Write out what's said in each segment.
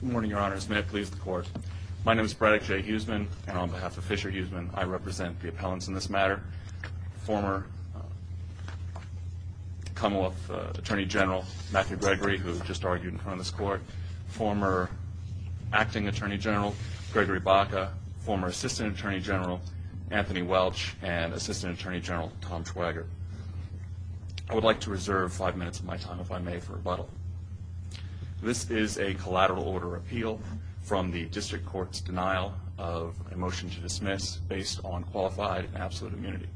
Good morning, your honors. May it please the court. My name is Braddock J. Huseman, and on behalf of Fisher Huseman, I represent the appellants in this matter, former Commonwealth Attorney General Matthew Gregory, who just argued in front of this court, former Acting Attorney General Gregory Baca, former Assistant Attorney General Anthony Welch, and Assistant Attorney General Tom Schwager. I would like to reserve five minutes of my time, if I may, for rebuttal. This is a collateral order appeal from the district court's denial of a motion to dismiss based on qualified and absolute immunity.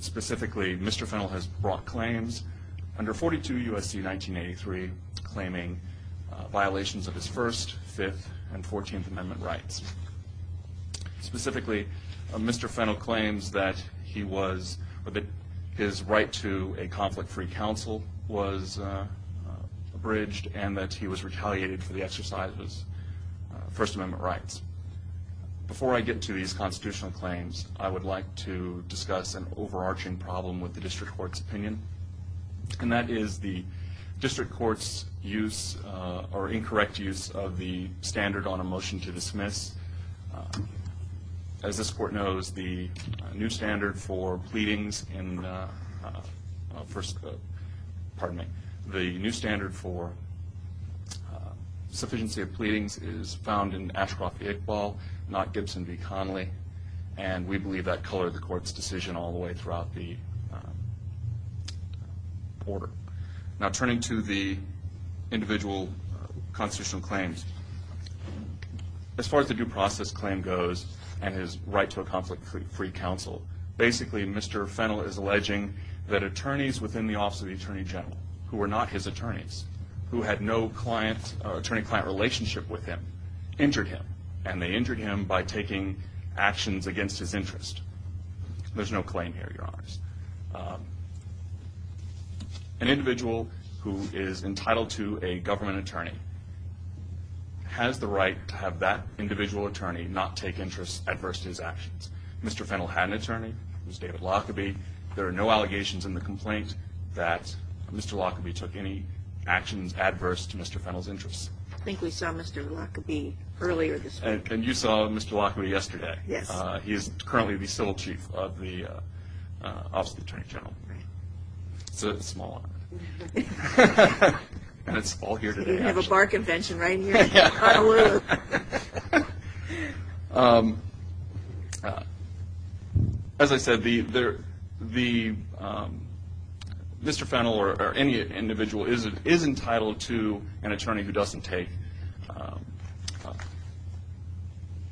Specifically, Mr. Fennell has brought claims under 42 U.S.C. 1983, claiming violations of his First, Fifth, and Fourteenth Amendment rights. Specifically, Mr. Fennell claims that his right to a conflict-free counsel was abridged, and that he was retaliated for the exercise of his First Amendment rights. Before I get to these constitutional claims, I would like to discuss an overarching problem with the district court's opinion. And that is the district court's use, or incorrect use, of the standard on a motion to dismiss. As this court knows, the new standard for pleadings in the First, Pardon me. The new standard for sufficiency of pleadings is found in Ashcroft v. Iqbal, not Gibson v. Connolly. And we believe that colored the court's decision all the way throughout the order. Now, turning to the individual constitutional claims, as far as the due process claim goes, and his right to a conflict-free counsel, basically, Mr. Fennell is alleging that attorneys within the Office of the Attorney General, who were not his attorneys, who had no attorney-client relationship with him, injured him. And they injured him by taking actions against his interest. There's no claim here, Your Honors. An individual who is entitled to a government attorney has the right to have that individual attorney not take interests adverse to his actions. Mr. Fennell had an attorney, it was David Lockerbie. There are no allegations in the complaint that Mr. Lockerbie took any actions adverse to Mr. Fennell's interests. I think we saw Mr. Lockerbie earlier this week. And you saw Mr. Lockerbie yesterday. He is currently the civil chief of the Office of the Attorney General. It's a small honor. And it's all here today, actually. You have a bar convention right here in Honolulu. As I said, Mr. Fennell, or any individual, is entitled to an attorney who doesn't take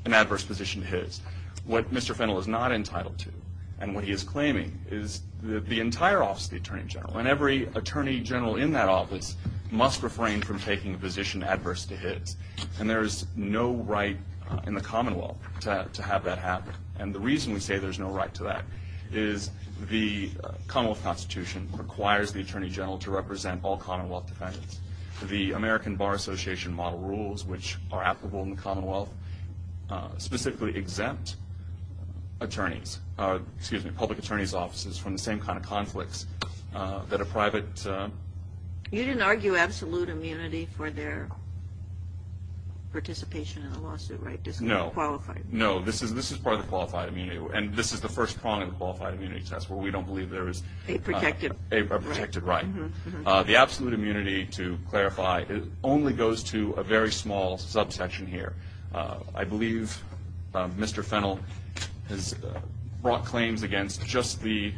an adverse position to his. What Mr. Fennell is not entitled to, and what he is claiming, is that the entire Office of the Attorney General, and every attorney general in that office, must refrain from taking a position adverse to his. And there is no right in the Commonwealth to have that happen. And the reason we say there's no right to that is the Commonwealth Constitution requires the attorney general to represent all Commonwealth defendants. The American Bar Association model rules, which are applicable in the Commonwealth, specifically exempt public attorney's offices from the same kind of conflicts that a private. You didn't argue absolute immunity for their participation in the lawsuit, right? Disqualified. No, this is part of the qualified immunity. And this is the first prong of the qualified immunity test, where we don't believe there is a protected right. The absolute immunity, to clarify, only goes to a very small subsection here. I believe Mr. Fennell has brought claims against just the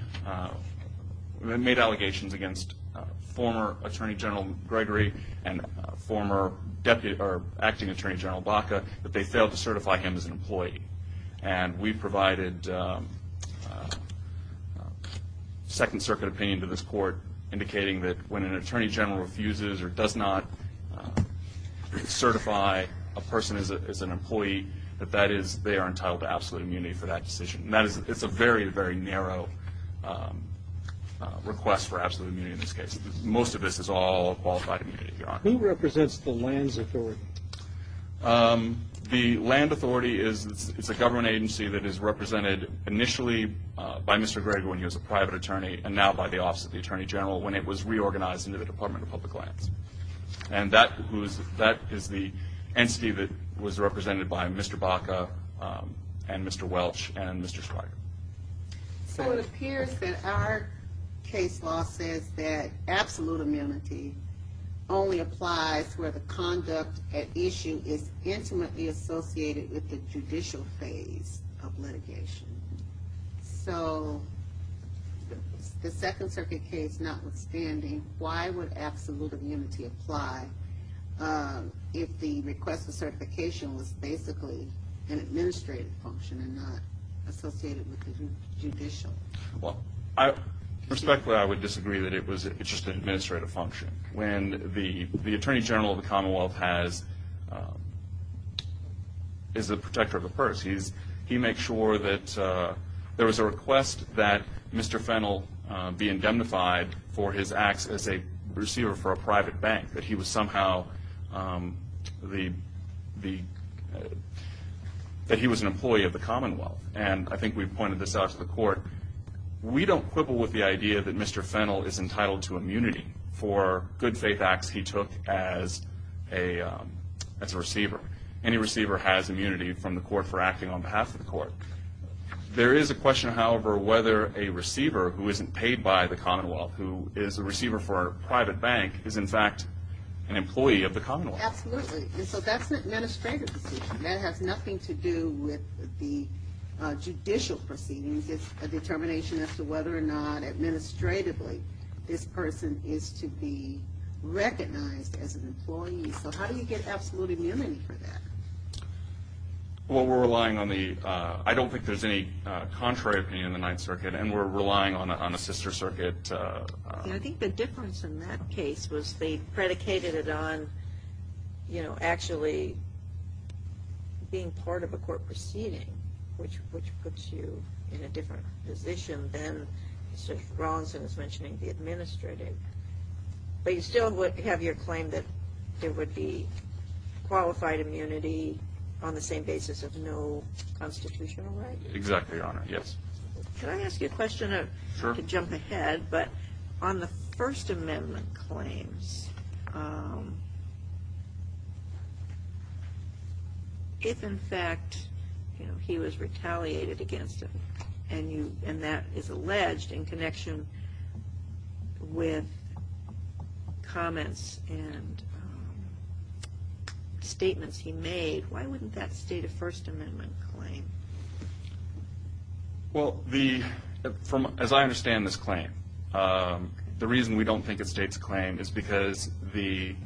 made allegations against former Attorney General Gregory, and former acting Attorney General Baca, that they failed to certify him as an employee. And we provided Second Circuit opinion to this court, indicating that when an attorney general refuses or does not certify a person as an employee, that that is, they are entitled to absolute immunity for that decision. And that is, it's a very, very narrow request for absolute immunity in this case. Most of this is all qualified immunity, Your Honor. Who represents the lands authority? The land authority is a government agency that is represented initially by Mr. Gregory, when he was a private attorney, and now by the Office of the Attorney General, when it was reorganized into the Department of Public Lands. And that is the entity that was represented by Mr. Baca, and Mr. Welch, and Mr. Schweiger. So it appears that our case law says that absolute immunity only applies where the conduct at issue is intimately associated with the judicial phase of litigation. So the Second Circuit case notwithstanding, why would absolute immunity apply if the request for certification was basically an administrative function and not associated with the judicial? Respectfully, I would disagree that it was just an administrative function. When the Attorney General of the Commonwealth is the protector of the purse, he makes sure that there was a request that Mr. Fennell be indemnified for his acts as a receiver for a private bank, that he was somehow an employee of the Commonwealth. And I think we've pointed this out to the court. We don't quibble with the idea that Mr. Fennell is entitled to immunity for good faith acts he took as a receiver. Any receiver has immunity from the court for acting on behalf of the court. There is a question, however, whether a receiver who isn't paid by the Commonwealth, who is a receiver for a private bank, is in fact an employee of the Commonwealth. Absolutely. And so that's an administrative decision. That has nothing to do with the judicial proceedings. It's a determination as to whether or not administratively this person is to be recognized as an employee. So how do you get absolute immunity for that? Well, we're relying on the, I don't think there's any contrary opinion in the Ninth Circuit. And we're relying on a sister circuit. I think the difference in that case was they predicated it on actually being part of a court proceeding, which puts you in a different position than Mr. Rawlinson was mentioning, the administrative. But you still would have your claim that there would be qualified immunity on the same basis of no constitutional right? Exactly, Your Honor, yes. Can I ask you a question to jump ahead? But on the First Amendment claims, if, in fact, he was retaliated against and that is alleged in connection with comments and statements he made, why wouldn't that state a First Amendment claim? Well, as I understand this claim, the reason we don't think it states a claim is because the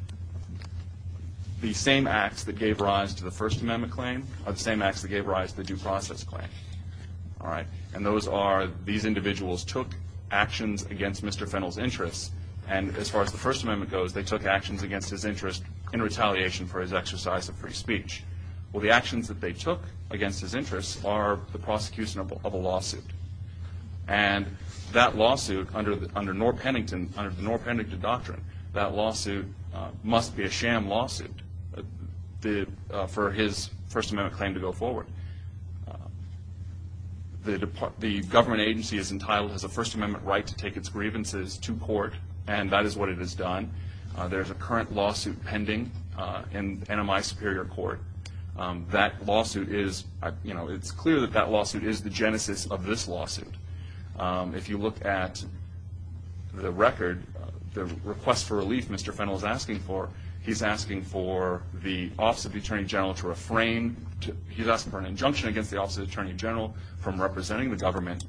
same acts that gave rise to the First Amendment claim are the same acts that gave rise to the due process claim. And those are these individuals took actions against Mr. Fennell's interests. And as far as the First Amendment goes, they took actions against his interest in retaliation for his exercise of free speech. Well, the actions that they took against his interests are the prosecution of a lawsuit. And that lawsuit, under the Norr Pennington doctrine, that lawsuit must be a sham lawsuit for his First Amendment claim to go forward. The government agency is entitled as a First Amendment right to take its grievances to court. And that is what it has done. There is a current lawsuit pending in NMI Superior Court. That lawsuit is, you know, it's clear that that lawsuit is the genesis of this lawsuit. If you look at the record, the request for relief Mr. Fennell is asking for, he's asking for the Office of the Attorney General to refrain. He's asking for an injunction against the Office of the Attorney General from representing the government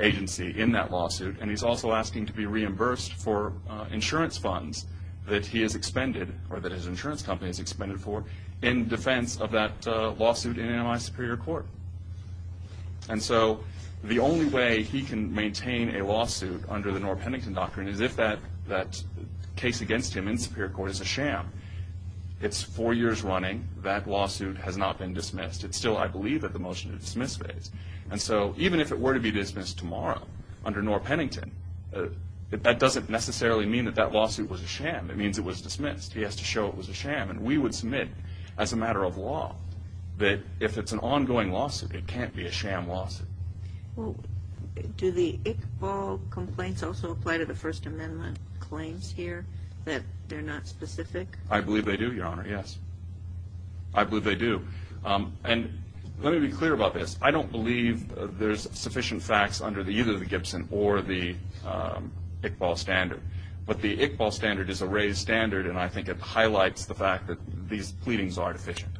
agency in that lawsuit. And he's also asking to be reimbursed for insurance funds that he has expended, or that his insurance company has expended for, in defense of that lawsuit in NMI Superior Court. And so the only way he can maintain a lawsuit under the Norr Pennington doctrine is if that case against him in Superior Court is a sham. It's four years running. That lawsuit has not been dismissed. It's still, I believe, at the motion to dismiss phase. And so even if it were to be dismissed tomorrow under Norr Pennington, that doesn't necessarily mean that that lawsuit was a sham. It means it was dismissed. He has to show it was a sham. And we would submit, as a matter of law, that if it's an ongoing lawsuit, it can't be a sham lawsuit. Well, do the Iqbal complaints also apply to the First Amendment claims here, that they're not specific? I believe they do, Your Honor, yes. I believe they do. And let me be clear about this. I don't believe there's sufficient facts under either the Gibson or the Iqbal standard. But the Iqbal standard is a raised standard. And I think it highlights the fact that these pleadings are deficient.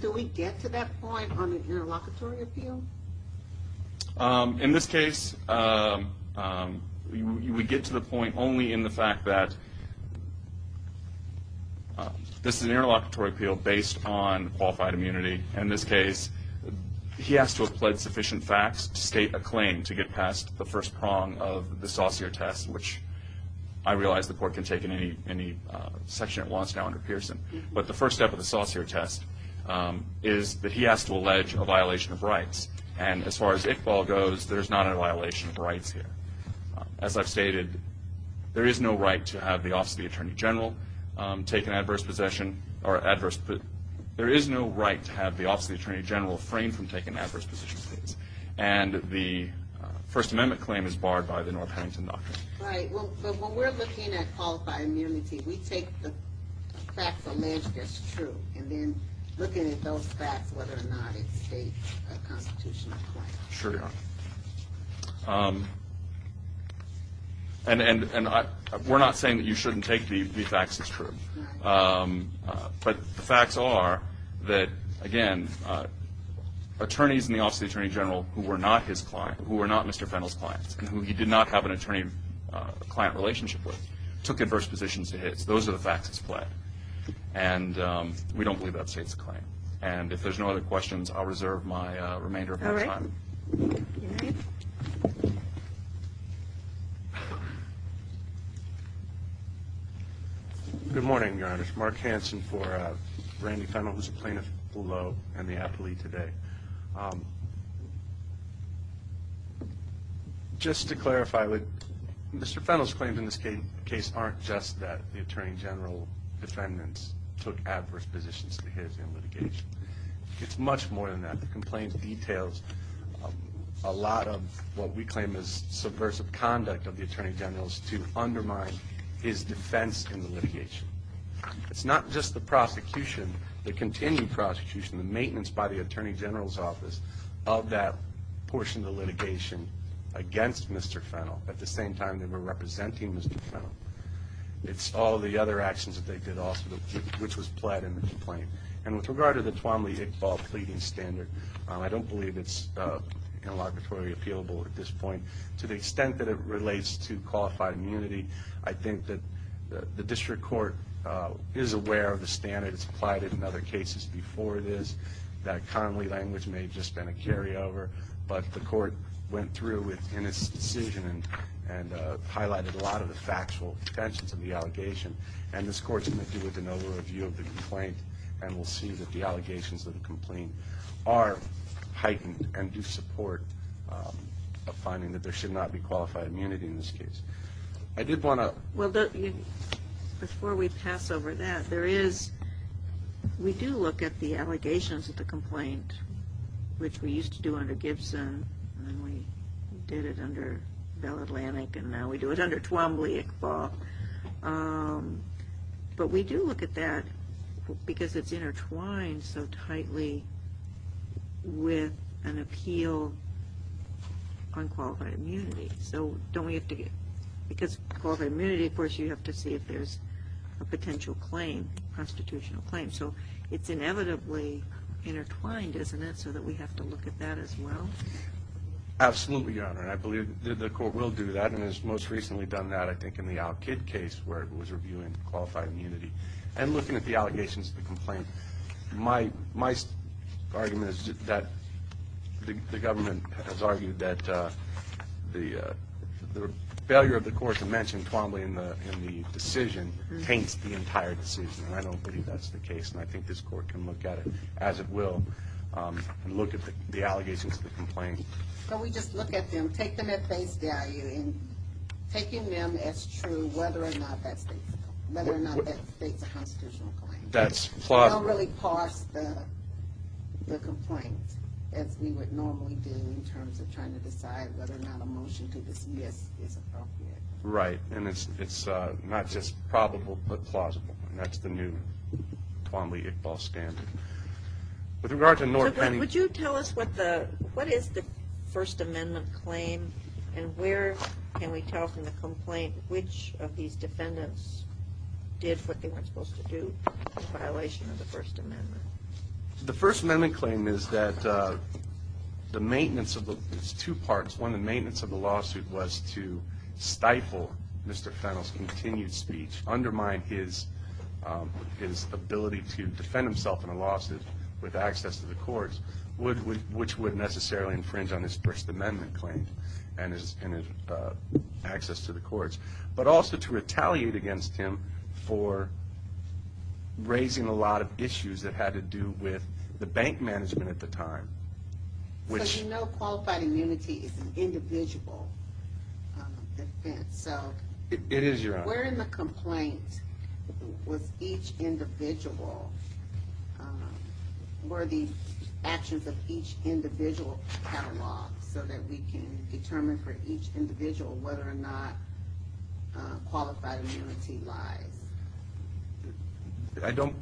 Do we get to that point on the interlocutory appeal? In this case, we get to the point only in the fact that this is an interlocutory appeal based on qualified immunity. In this case, he has to have pled sufficient facts to state a claim to get past the first prong of the Saucere test, which I realize the court can take in any section it wants now under Pearson. But the first step of the Saucere test is that he has to allege a violation of rights. And as far as Iqbal goes, there's not a violation of rights here. As I've stated, there is no right to have the Office of the Attorney General take an adverse possession or adverse position. There is no right to have the Office of the Attorney General framed from taking adverse position states. And the First Amendment claim is barred by the North Huntington Doctrine. Right. But when we're looking at qualified immunity, we take the facts alleged as true. And then looking at those facts, whether or not it states a constitutional claim. Sure, Your Honor. And we're not saying that you shouldn't take the facts as true. But the facts are that, again, attorneys in the Office of the Attorney General who were not Mr. Fennell's clients and who he did not have an attorney-client relationship with took adverse positions to his. Those are the facts at play. And we don't believe that states a claim. And if there's no other questions, I'll reserve my remainder of my time. All right. All right. Good morning, Your Honor. Mark Hanson for Randy Fennell, who's a plaintiff below in the appleee today. And just to clarify, Mr. Fennell's claims in this case aren't just that the attorney general defendants took adverse positions to his in litigation. It's much more than that. The complaint details a lot of what we claim is subversive conduct of the attorney general is to undermine his defense in the litigation. It's not just the prosecution, the continued prosecution, the maintenance by the attorney general's office of that portion of the litigation against Mr. Fennell. At the same time, they were representing Mr. Fennell. It's all the other actions that they did also, which was pled in the complaint. And with regard to the Twombly-Iqbal pleading standard, I don't believe it's inelaborately appealable at this point. To the extent that it relates to qualified immunity, I think that the district court is aware of the standard. It's applied it in other cases before this. That Connolly language may have just been a carryover. But the court went through in its decision and highlighted a lot of the factual tensions of the allegation. And this court's going to do an overview of the complaint. And we'll see that the allegations of the complaint are heightened and do support a finding that there should not be qualified immunity in this case. I did want to. Well, before we pass over that, there is we do look at the allegations of the complaint, which we used to do under Gibson. And then we did it under Bell Atlantic. And now we do it under Twombly-Iqbal. But we do look at that because it's intertwined so tightly with an appeal on qualified immunity. Because qualified immunity, of course, you have to see if there's a potential claim, constitutional claim. So it's inevitably intertwined, isn't it, so that we have to look at that as well? Absolutely, Your Honor. And I believe the court will do that. And it's most recently done that, I think, in the Al-Kid case, where it was reviewing qualified immunity and looking at the allegations of the complaint. My argument is that the government has argued that the failure of the court to mention Twombly in the decision taints the entire decision. And I don't believe that's the case. And I think this court can look at it, as it will, and look at the allegations of the complaint. So we just look at them, take them at face value, and taking them as true, whether or not that states a constitutional claim. That's flawed. Don't really parse the complaint as we would normally do in terms of trying to decide whether or not a motion to dismiss is appropriate. And it's not just probable, but plausible. And that's the new Twombly-Iqbal scandal. With regard to Norton. Would you tell us what is the First Amendment claim? And where can we tell from the complaint which of these defendants did what they weren't supposed to do in violation of the First Amendment? The First Amendment claim is that the maintenance of the two parts, one, the maintenance of the lawsuit was to stifle Mr. Fennell's continued speech, undermine his ability to defend himself in a lawsuit with access to the courts, which would necessarily infringe on his First Amendment claim and his access to the courts, but also to retaliate against him for raising a lot of issues that had to do with the bank management at the time. So you know qualified immunity is an individual offense. So where in the complaint was each individual, were the actions of each individual cataloged so that we can determine for each individual whether or not qualified immunity lies? I don't.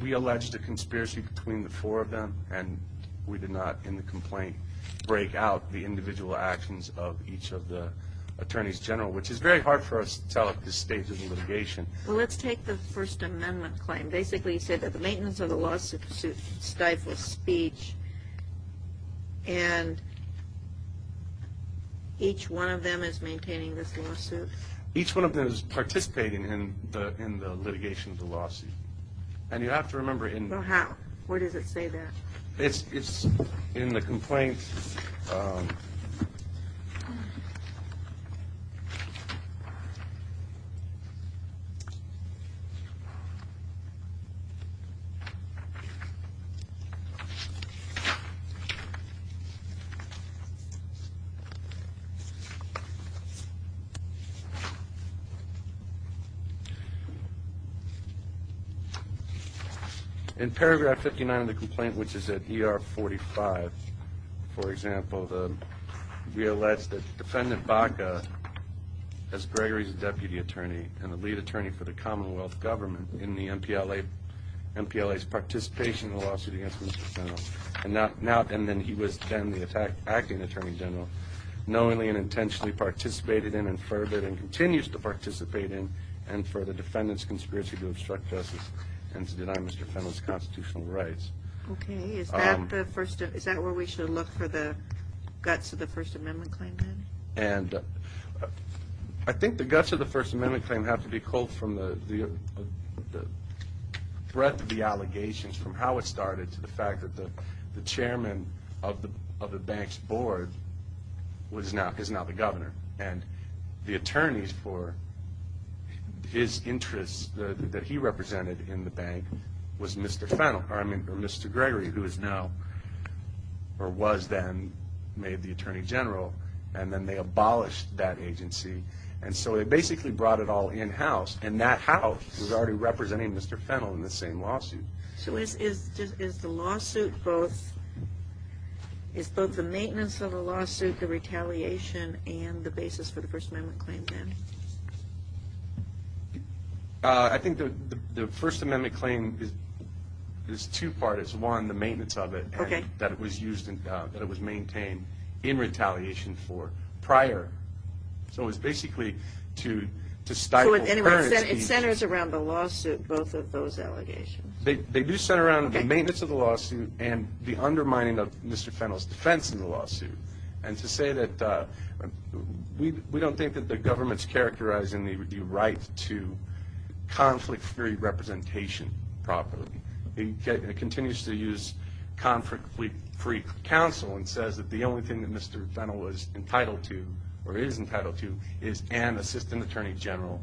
We alleged a conspiracy between the four of them, and we did not, in the complaint, break out the individual actions of each of the attorneys general, which is very hard for us to tell at this stage of the litigation. Well, let's take the First Amendment claim. Basically, you said that the maintenance of the lawsuit stifles speech, and each one of them is maintaining this lawsuit? Each one of them is participating in the litigation of the lawsuit. And you have to remember in the lawsuit. Where does it say that? It's in the complaint. In paragraph 59 of the complaint, which for example, we allege that Defendant Baca, as Gregory's deputy attorney and the lead attorney for the Commonwealth government in the MPLA's participation in the lawsuit against Mr. Fennell, and then he was then the acting attorney general, knowingly and intentionally participated in and furthered and continues to participate in and for the defendant's conspiracy to obstruct justice and to deny Mr. Fennell's constitutional rights. OK, is that where we should look for the guts of the First Amendment claim, then? And I think the guts of the First Amendment claim have to be pulled from the breadth of the allegations, from how it started to the fact that the chairman of the bank's board is now the governor. And the attorneys for his interests that he represented in the bank was Mr. Fennell, or I mean, Mr. Gregory, who is now, or was then, made the attorney general. And then they abolished that agency. And so they basically brought it all in-house. And that house was already representing Mr. Fennell in the same lawsuit. So is the lawsuit both the maintenance of the lawsuit, the retaliation, and the basis for the First Amendment claim, then? I think the First Amendment claim is two-part. It's one, the maintenance of it, and that it was used, that it was maintained in retaliation for prior. So it's basically to stifle currency. So anyway, it centers around the lawsuit, both of those allegations. They do center around the maintenance of the lawsuit and the undermining of Mr. Fennell's defense in the lawsuit. And to say that we don't think that the government's characterizing the right to conflict-free representation properly. It continues to use conflict-free counsel and says that the only thing that Mr. Fennell was entitled to, or is entitled to, is an assistant attorney general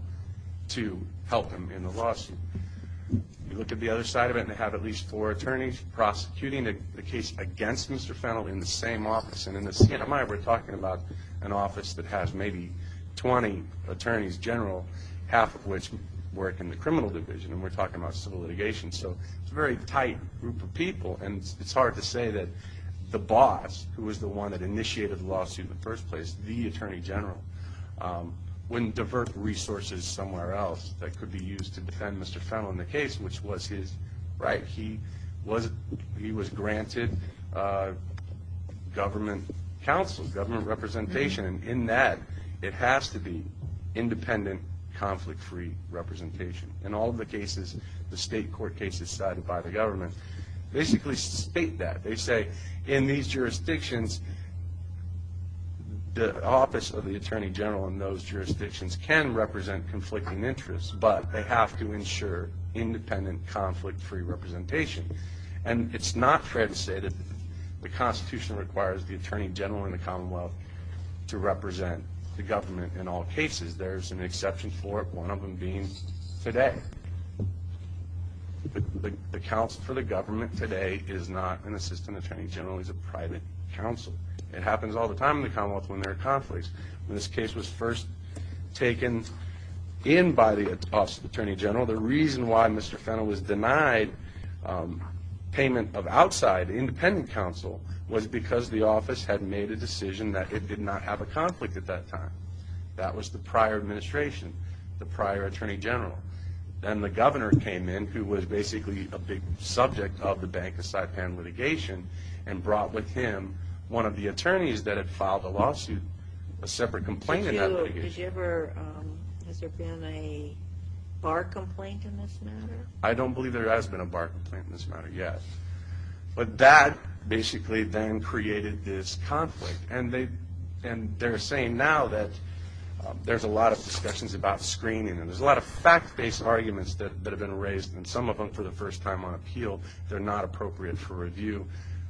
to help him in the lawsuit. You look at the other side of it, and they have at least four attorneys prosecuting the case against Mr. Fennell in the same office. And in the CNMI, we're talking about an office that has maybe 20 attorneys general, half of which work in the criminal division. And we're talking about civil litigation. So it's a very tight group of people. And it's hard to say that the boss, who was the one that initiated the lawsuit in the first place, the attorney general, wouldn't divert resources somewhere else that could be used to defend Mr. Fennell in the case, which was his right. He was granted government counsel, government representation. And in that, it has to be independent, conflict-free representation. In all of the cases, the state court cases cited by the government basically state that. They say, in these jurisdictions, the office of the attorney general in those jurisdictions can represent conflicting interests. But they have to ensure independent, conflict-free representation. And it's not fair to say that the Constitution requires the attorney general in the Commonwealth to represent the government in all cases. There's an exception for it, one of them being today. The counsel for the government today is not an assistant attorney general. It's a private counsel. It happens all the time in the Commonwealth when there are conflicts. When this case was first taken in by the office of attorney general, the reason why Mr. Fennell was denied payment of outside independent counsel was because the office had made a decision that it did not have a conflict at that time. That was the prior administration, the prior attorney general. Then the governor came in, who was basically a big subject of the Bank of Saipan litigation, and brought with him one of the attorneys that had filed a lawsuit, a separate complaint in that litigation. Has there been a bar complaint in this matter? I don't believe there has been a bar complaint in this matter, yet. But that basically then created this conflict. And they're saying now that there's a lot of discussions about screening, and there's a lot of fact-based arguments that have been raised. And some of them, for the first time on appeal, they're not appropriate for review.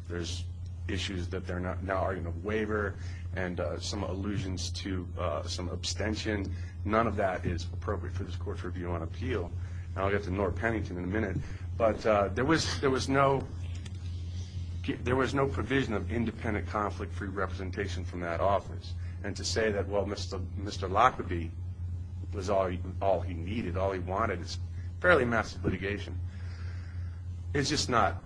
There's issues that they're not now arguing a waiver, and some allusions to some abstention. None of that is appropriate for this court's review on appeal. I'll get to Nora Pennington in a minute. But there was no provision of independent conflict-free representation from that office. And to say that, well, Mr. Lockerbie was all he needed, all he wanted, is fairly massive litigation. It's just not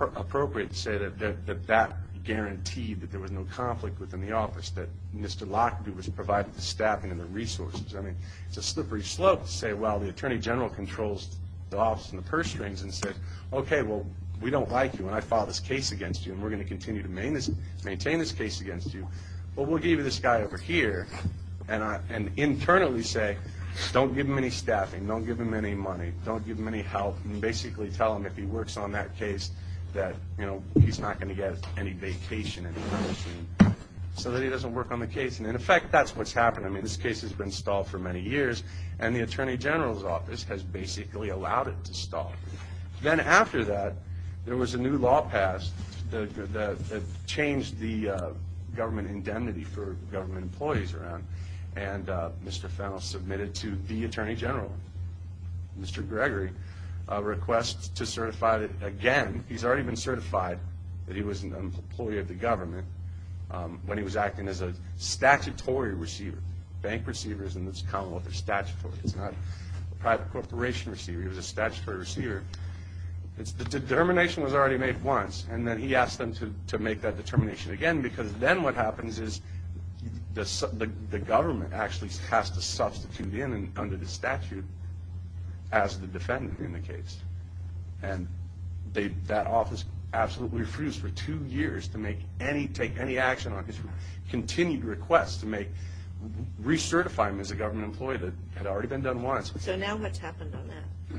appropriate to say that that guaranteed that there was no conflict within the office, that Mr. Lockerbie was provided the staffing and the resources. I mean, it's a slippery slope to say, well, the attorney general controls the office and the purse strings and said, OK, well, we don't like you, and I filed this case against you, and we're going to continue to maintain this case against you. But we'll give you this guy over here, and internally say, don't give him any staffing. Don't give him any money. Don't give him any help. And basically tell him if he works on that case that he's not going to get any vacation, any promotion, so that he doesn't work on the case. And in effect, that's what's happened. I mean, this case has been stalled for many years. And the attorney general's office has basically allowed it to stall. Then after that, there was a new law passed that changed the government indemnity for government employees around. And Mr. Fennell submitted to the attorney general, Mr. Gregory, a request to certify that, again, he's already been certified that he was an employee of the government when he was acting as a statutory receiver, bank receivers in this commonwealth are statutory. It's not a private corporation receiver. He was a statutory receiver. The determination was already made once. And then he asked them to make that determination again. Because then what happens is the government actually has to substitute in under the statute as the defendant in the case. And that office absolutely refused for two years to take any action on his continued request to recertify him as a government employee that had already been done once. So now what's happened on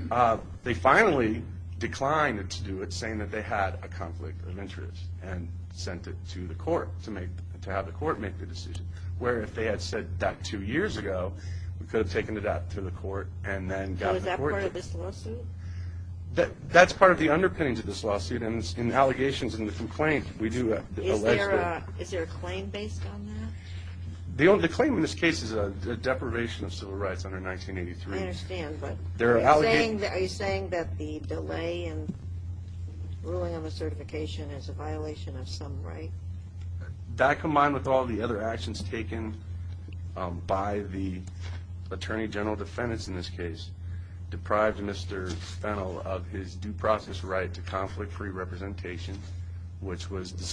that? They finally declined to do it, saying that they had a conflict of interest and sent it to the court to have the court make the decision. Where if they had said that two years ago, we could have taken it out to the court and then got the court to do it. So is that part of this lawsuit? That's part of the underpinnings of this lawsuit. In the allegations and the complaint, we do allege that. Is there a claim based on that? The claim in this case is a deprivation of civil rights under 1983. I understand. But are you saying that the delay in ruling on the certification is a violation of some right? That combined with all the other actions taken by the attorney general defendants in this case deprived Mr. Fennell of his due process right to conflict-free representation, which was the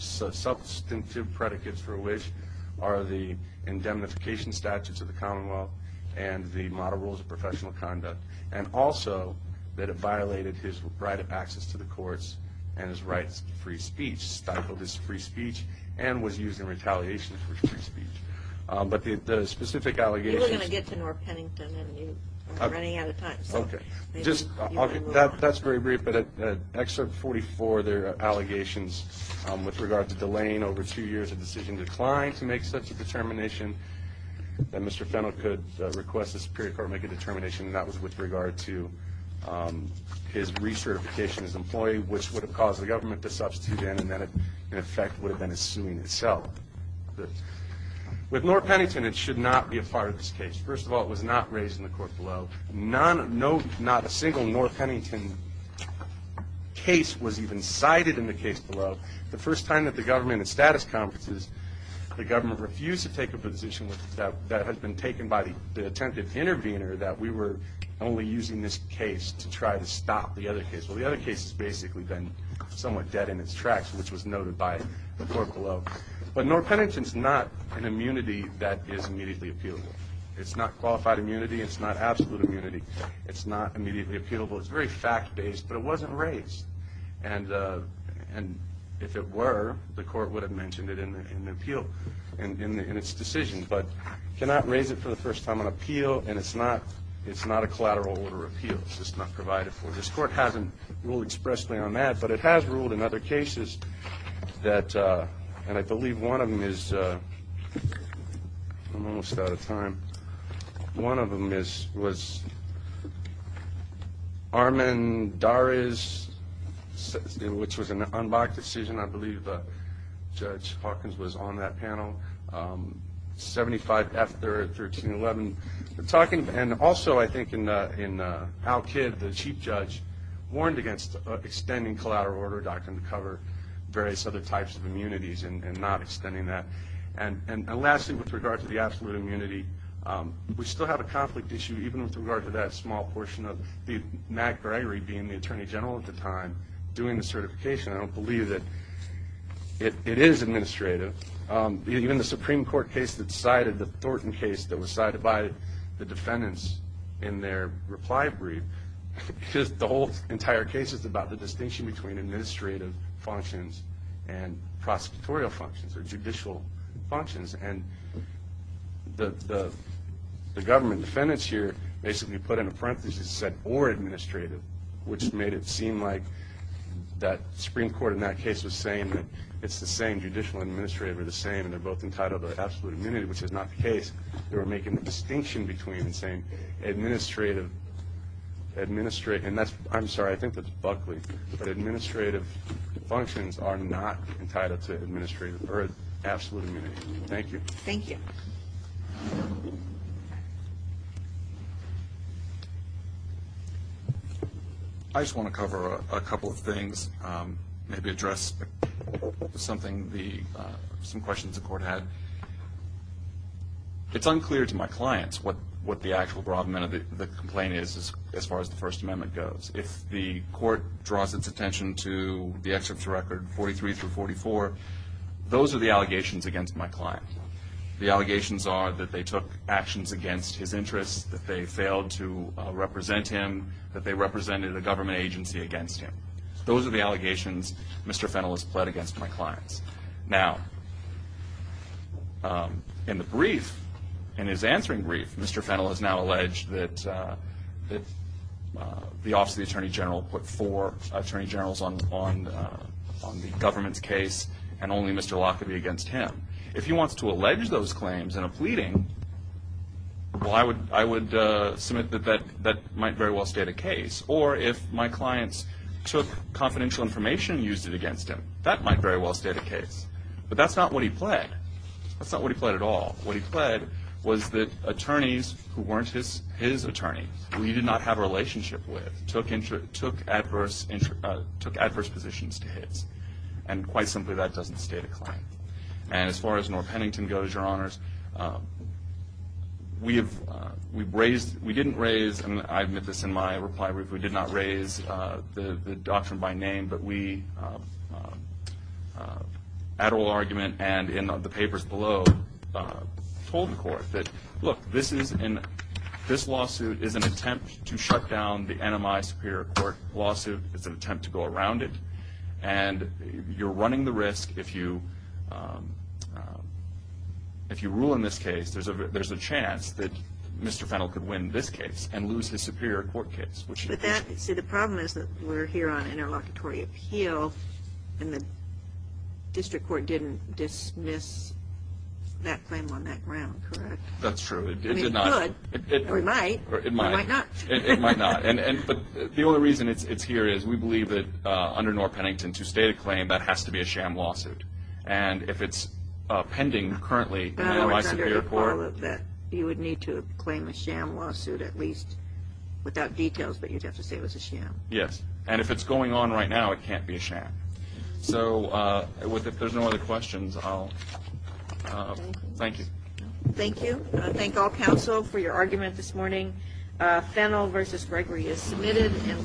substantive predicates for which are the indemnification statutes of the Commonwealth and the model rules of professional conduct, and also that it violated his right of access to the courts and his right to free speech, stifled his free speech, and was used in retaliation for his free speech. But the specific allegations. You were going to get to North Pennington, and you are running out of time. OK. Just that's very brief. Excerpt 44, there are allegations with regard to delaying over two years of decision decline to make such a determination that Mr. Fennell could request the Superior Court make a determination that was with regard to his recertification as employee, which would have caused the government to substitute in, and that, in effect, would have been a suing itself. With North Pennington, it should not be a part of this case. First of all, it was not raised in the court below. No, not a single North Pennington case was even cited in the case below. The first time that the government and status conferences, the government refused to take a position that had been taken by the attempted intervener, that we were only using this case to try to stop the other case. Well, the other case has basically been somewhat dead in its tracks, which was noted by the court below. But North Pennington's not an immunity that is immediately appealable. It's not qualified immunity. It's not absolute immunity. It's not immediately appealable. It's very fact-based. But it wasn't raised. And if it were, the court would have mentioned it in the appeal, in its decision. But cannot raise it for the first time on appeal, and it's not a collateral order appeal. It's just not provided for. This court hasn't ruled expressly on that, but it has ruled in other cases that, and I believe one of them is, I'm almost out of time. One of them was Armendariz, which was an unmarked decision. I believe Judge Hawkins was on that panel, 75 after 1311. And also, I think, in Al Kidd, the chief judge warned against extending collateral order doctrine to cover various other types of immunities and not extending that. And lastly, with regard to the absolute immunity, we still have a conflict issue, even with regard to that small portion of Matt Gregory being the attorney general at the time, doing the certification. I don't believe that it is administrative. Even the Supreme Court case that sided, the Thornton case that was sided by the defendants in their reply brief, the whole entire case is about the distinction between administrative functions and prosecutorial functions, or judicial functions. And the government defendants here basically put in a parenthesis that said, or administrative, which made it seem like that Supreme Court in that case was saying that it's the same, judicial and administrative are the same, and they're both entitled to absolute immunity, which is not the case. They were making the distinction between saying, administrative, and that's, I'm sorry, I think that's Buckley, but administrative functions are not entitled to absolute immunity. Thank you. Thank you. I just want to cover a couple of things, maybe address something, some questions the court had. It's unclear to my clients what the actual problem and the complaint is, as far as the First Amendment goes. If the court draws its attention to the excerpt's record, 43 through 44, those are the allegations against my client. The allegations are that they took actions against his interests, that they failed to represent him, that they represented a government agency against him. Those are the allegations Mr. Fennell has pled against my clients. Now, in the brief, in his answering brief, Mr. Fennell has now alleged that the Office of the Attorney General put four attorney generals on the government's case, and only Mr. Lockerbie against him. If he wants to allege those claims in a pleading, well, I would submit that that might very well state a case. Or if my clients took confidential information and used it against him, that might very well state a case. But that's not what he pled. That's not what he pled at all. What he pled was that attorneys who weren't his attorney, who he did not have a relationship with, took adverse positions to his. And quite simply, that doesn't state a claim. And as far as Norr Pennington goes, your honors, we didn't raise, and I admit this in my reply brief, we did not raise the doctrine by name. But we, at oral argument and in the papers below, told the court that, look, this lawsuit is an attempt to shut down the NMI Superior Court lawsuit. It's an attempt to go around it. And you're running the risk, if you rule in this case, there's a chance that Mr. Fennell could win this case and lose his Superior Court case. See, the problem is that we're here on interlocutory appeal, and the district court didn't dismiss that claim on that ground, correct? That's true. It did not. I mean, it could, or it might. It might not. But the only reason it's here is we believe that, under Norr Pennington, to state a claim, that has to be a sham lawsuit. And if it's pending currently in the NMI Superior Court, You would need to claim a sham lawsuit, at least, without details, but you'd have to say it was a sham. Yes. And if it's going on right now, it can't be a sham. So if there's no other questions, I'll thank you. Thank you. Thank all counsel for your argument this morning. Fennell versus Gregory is submitted and worded.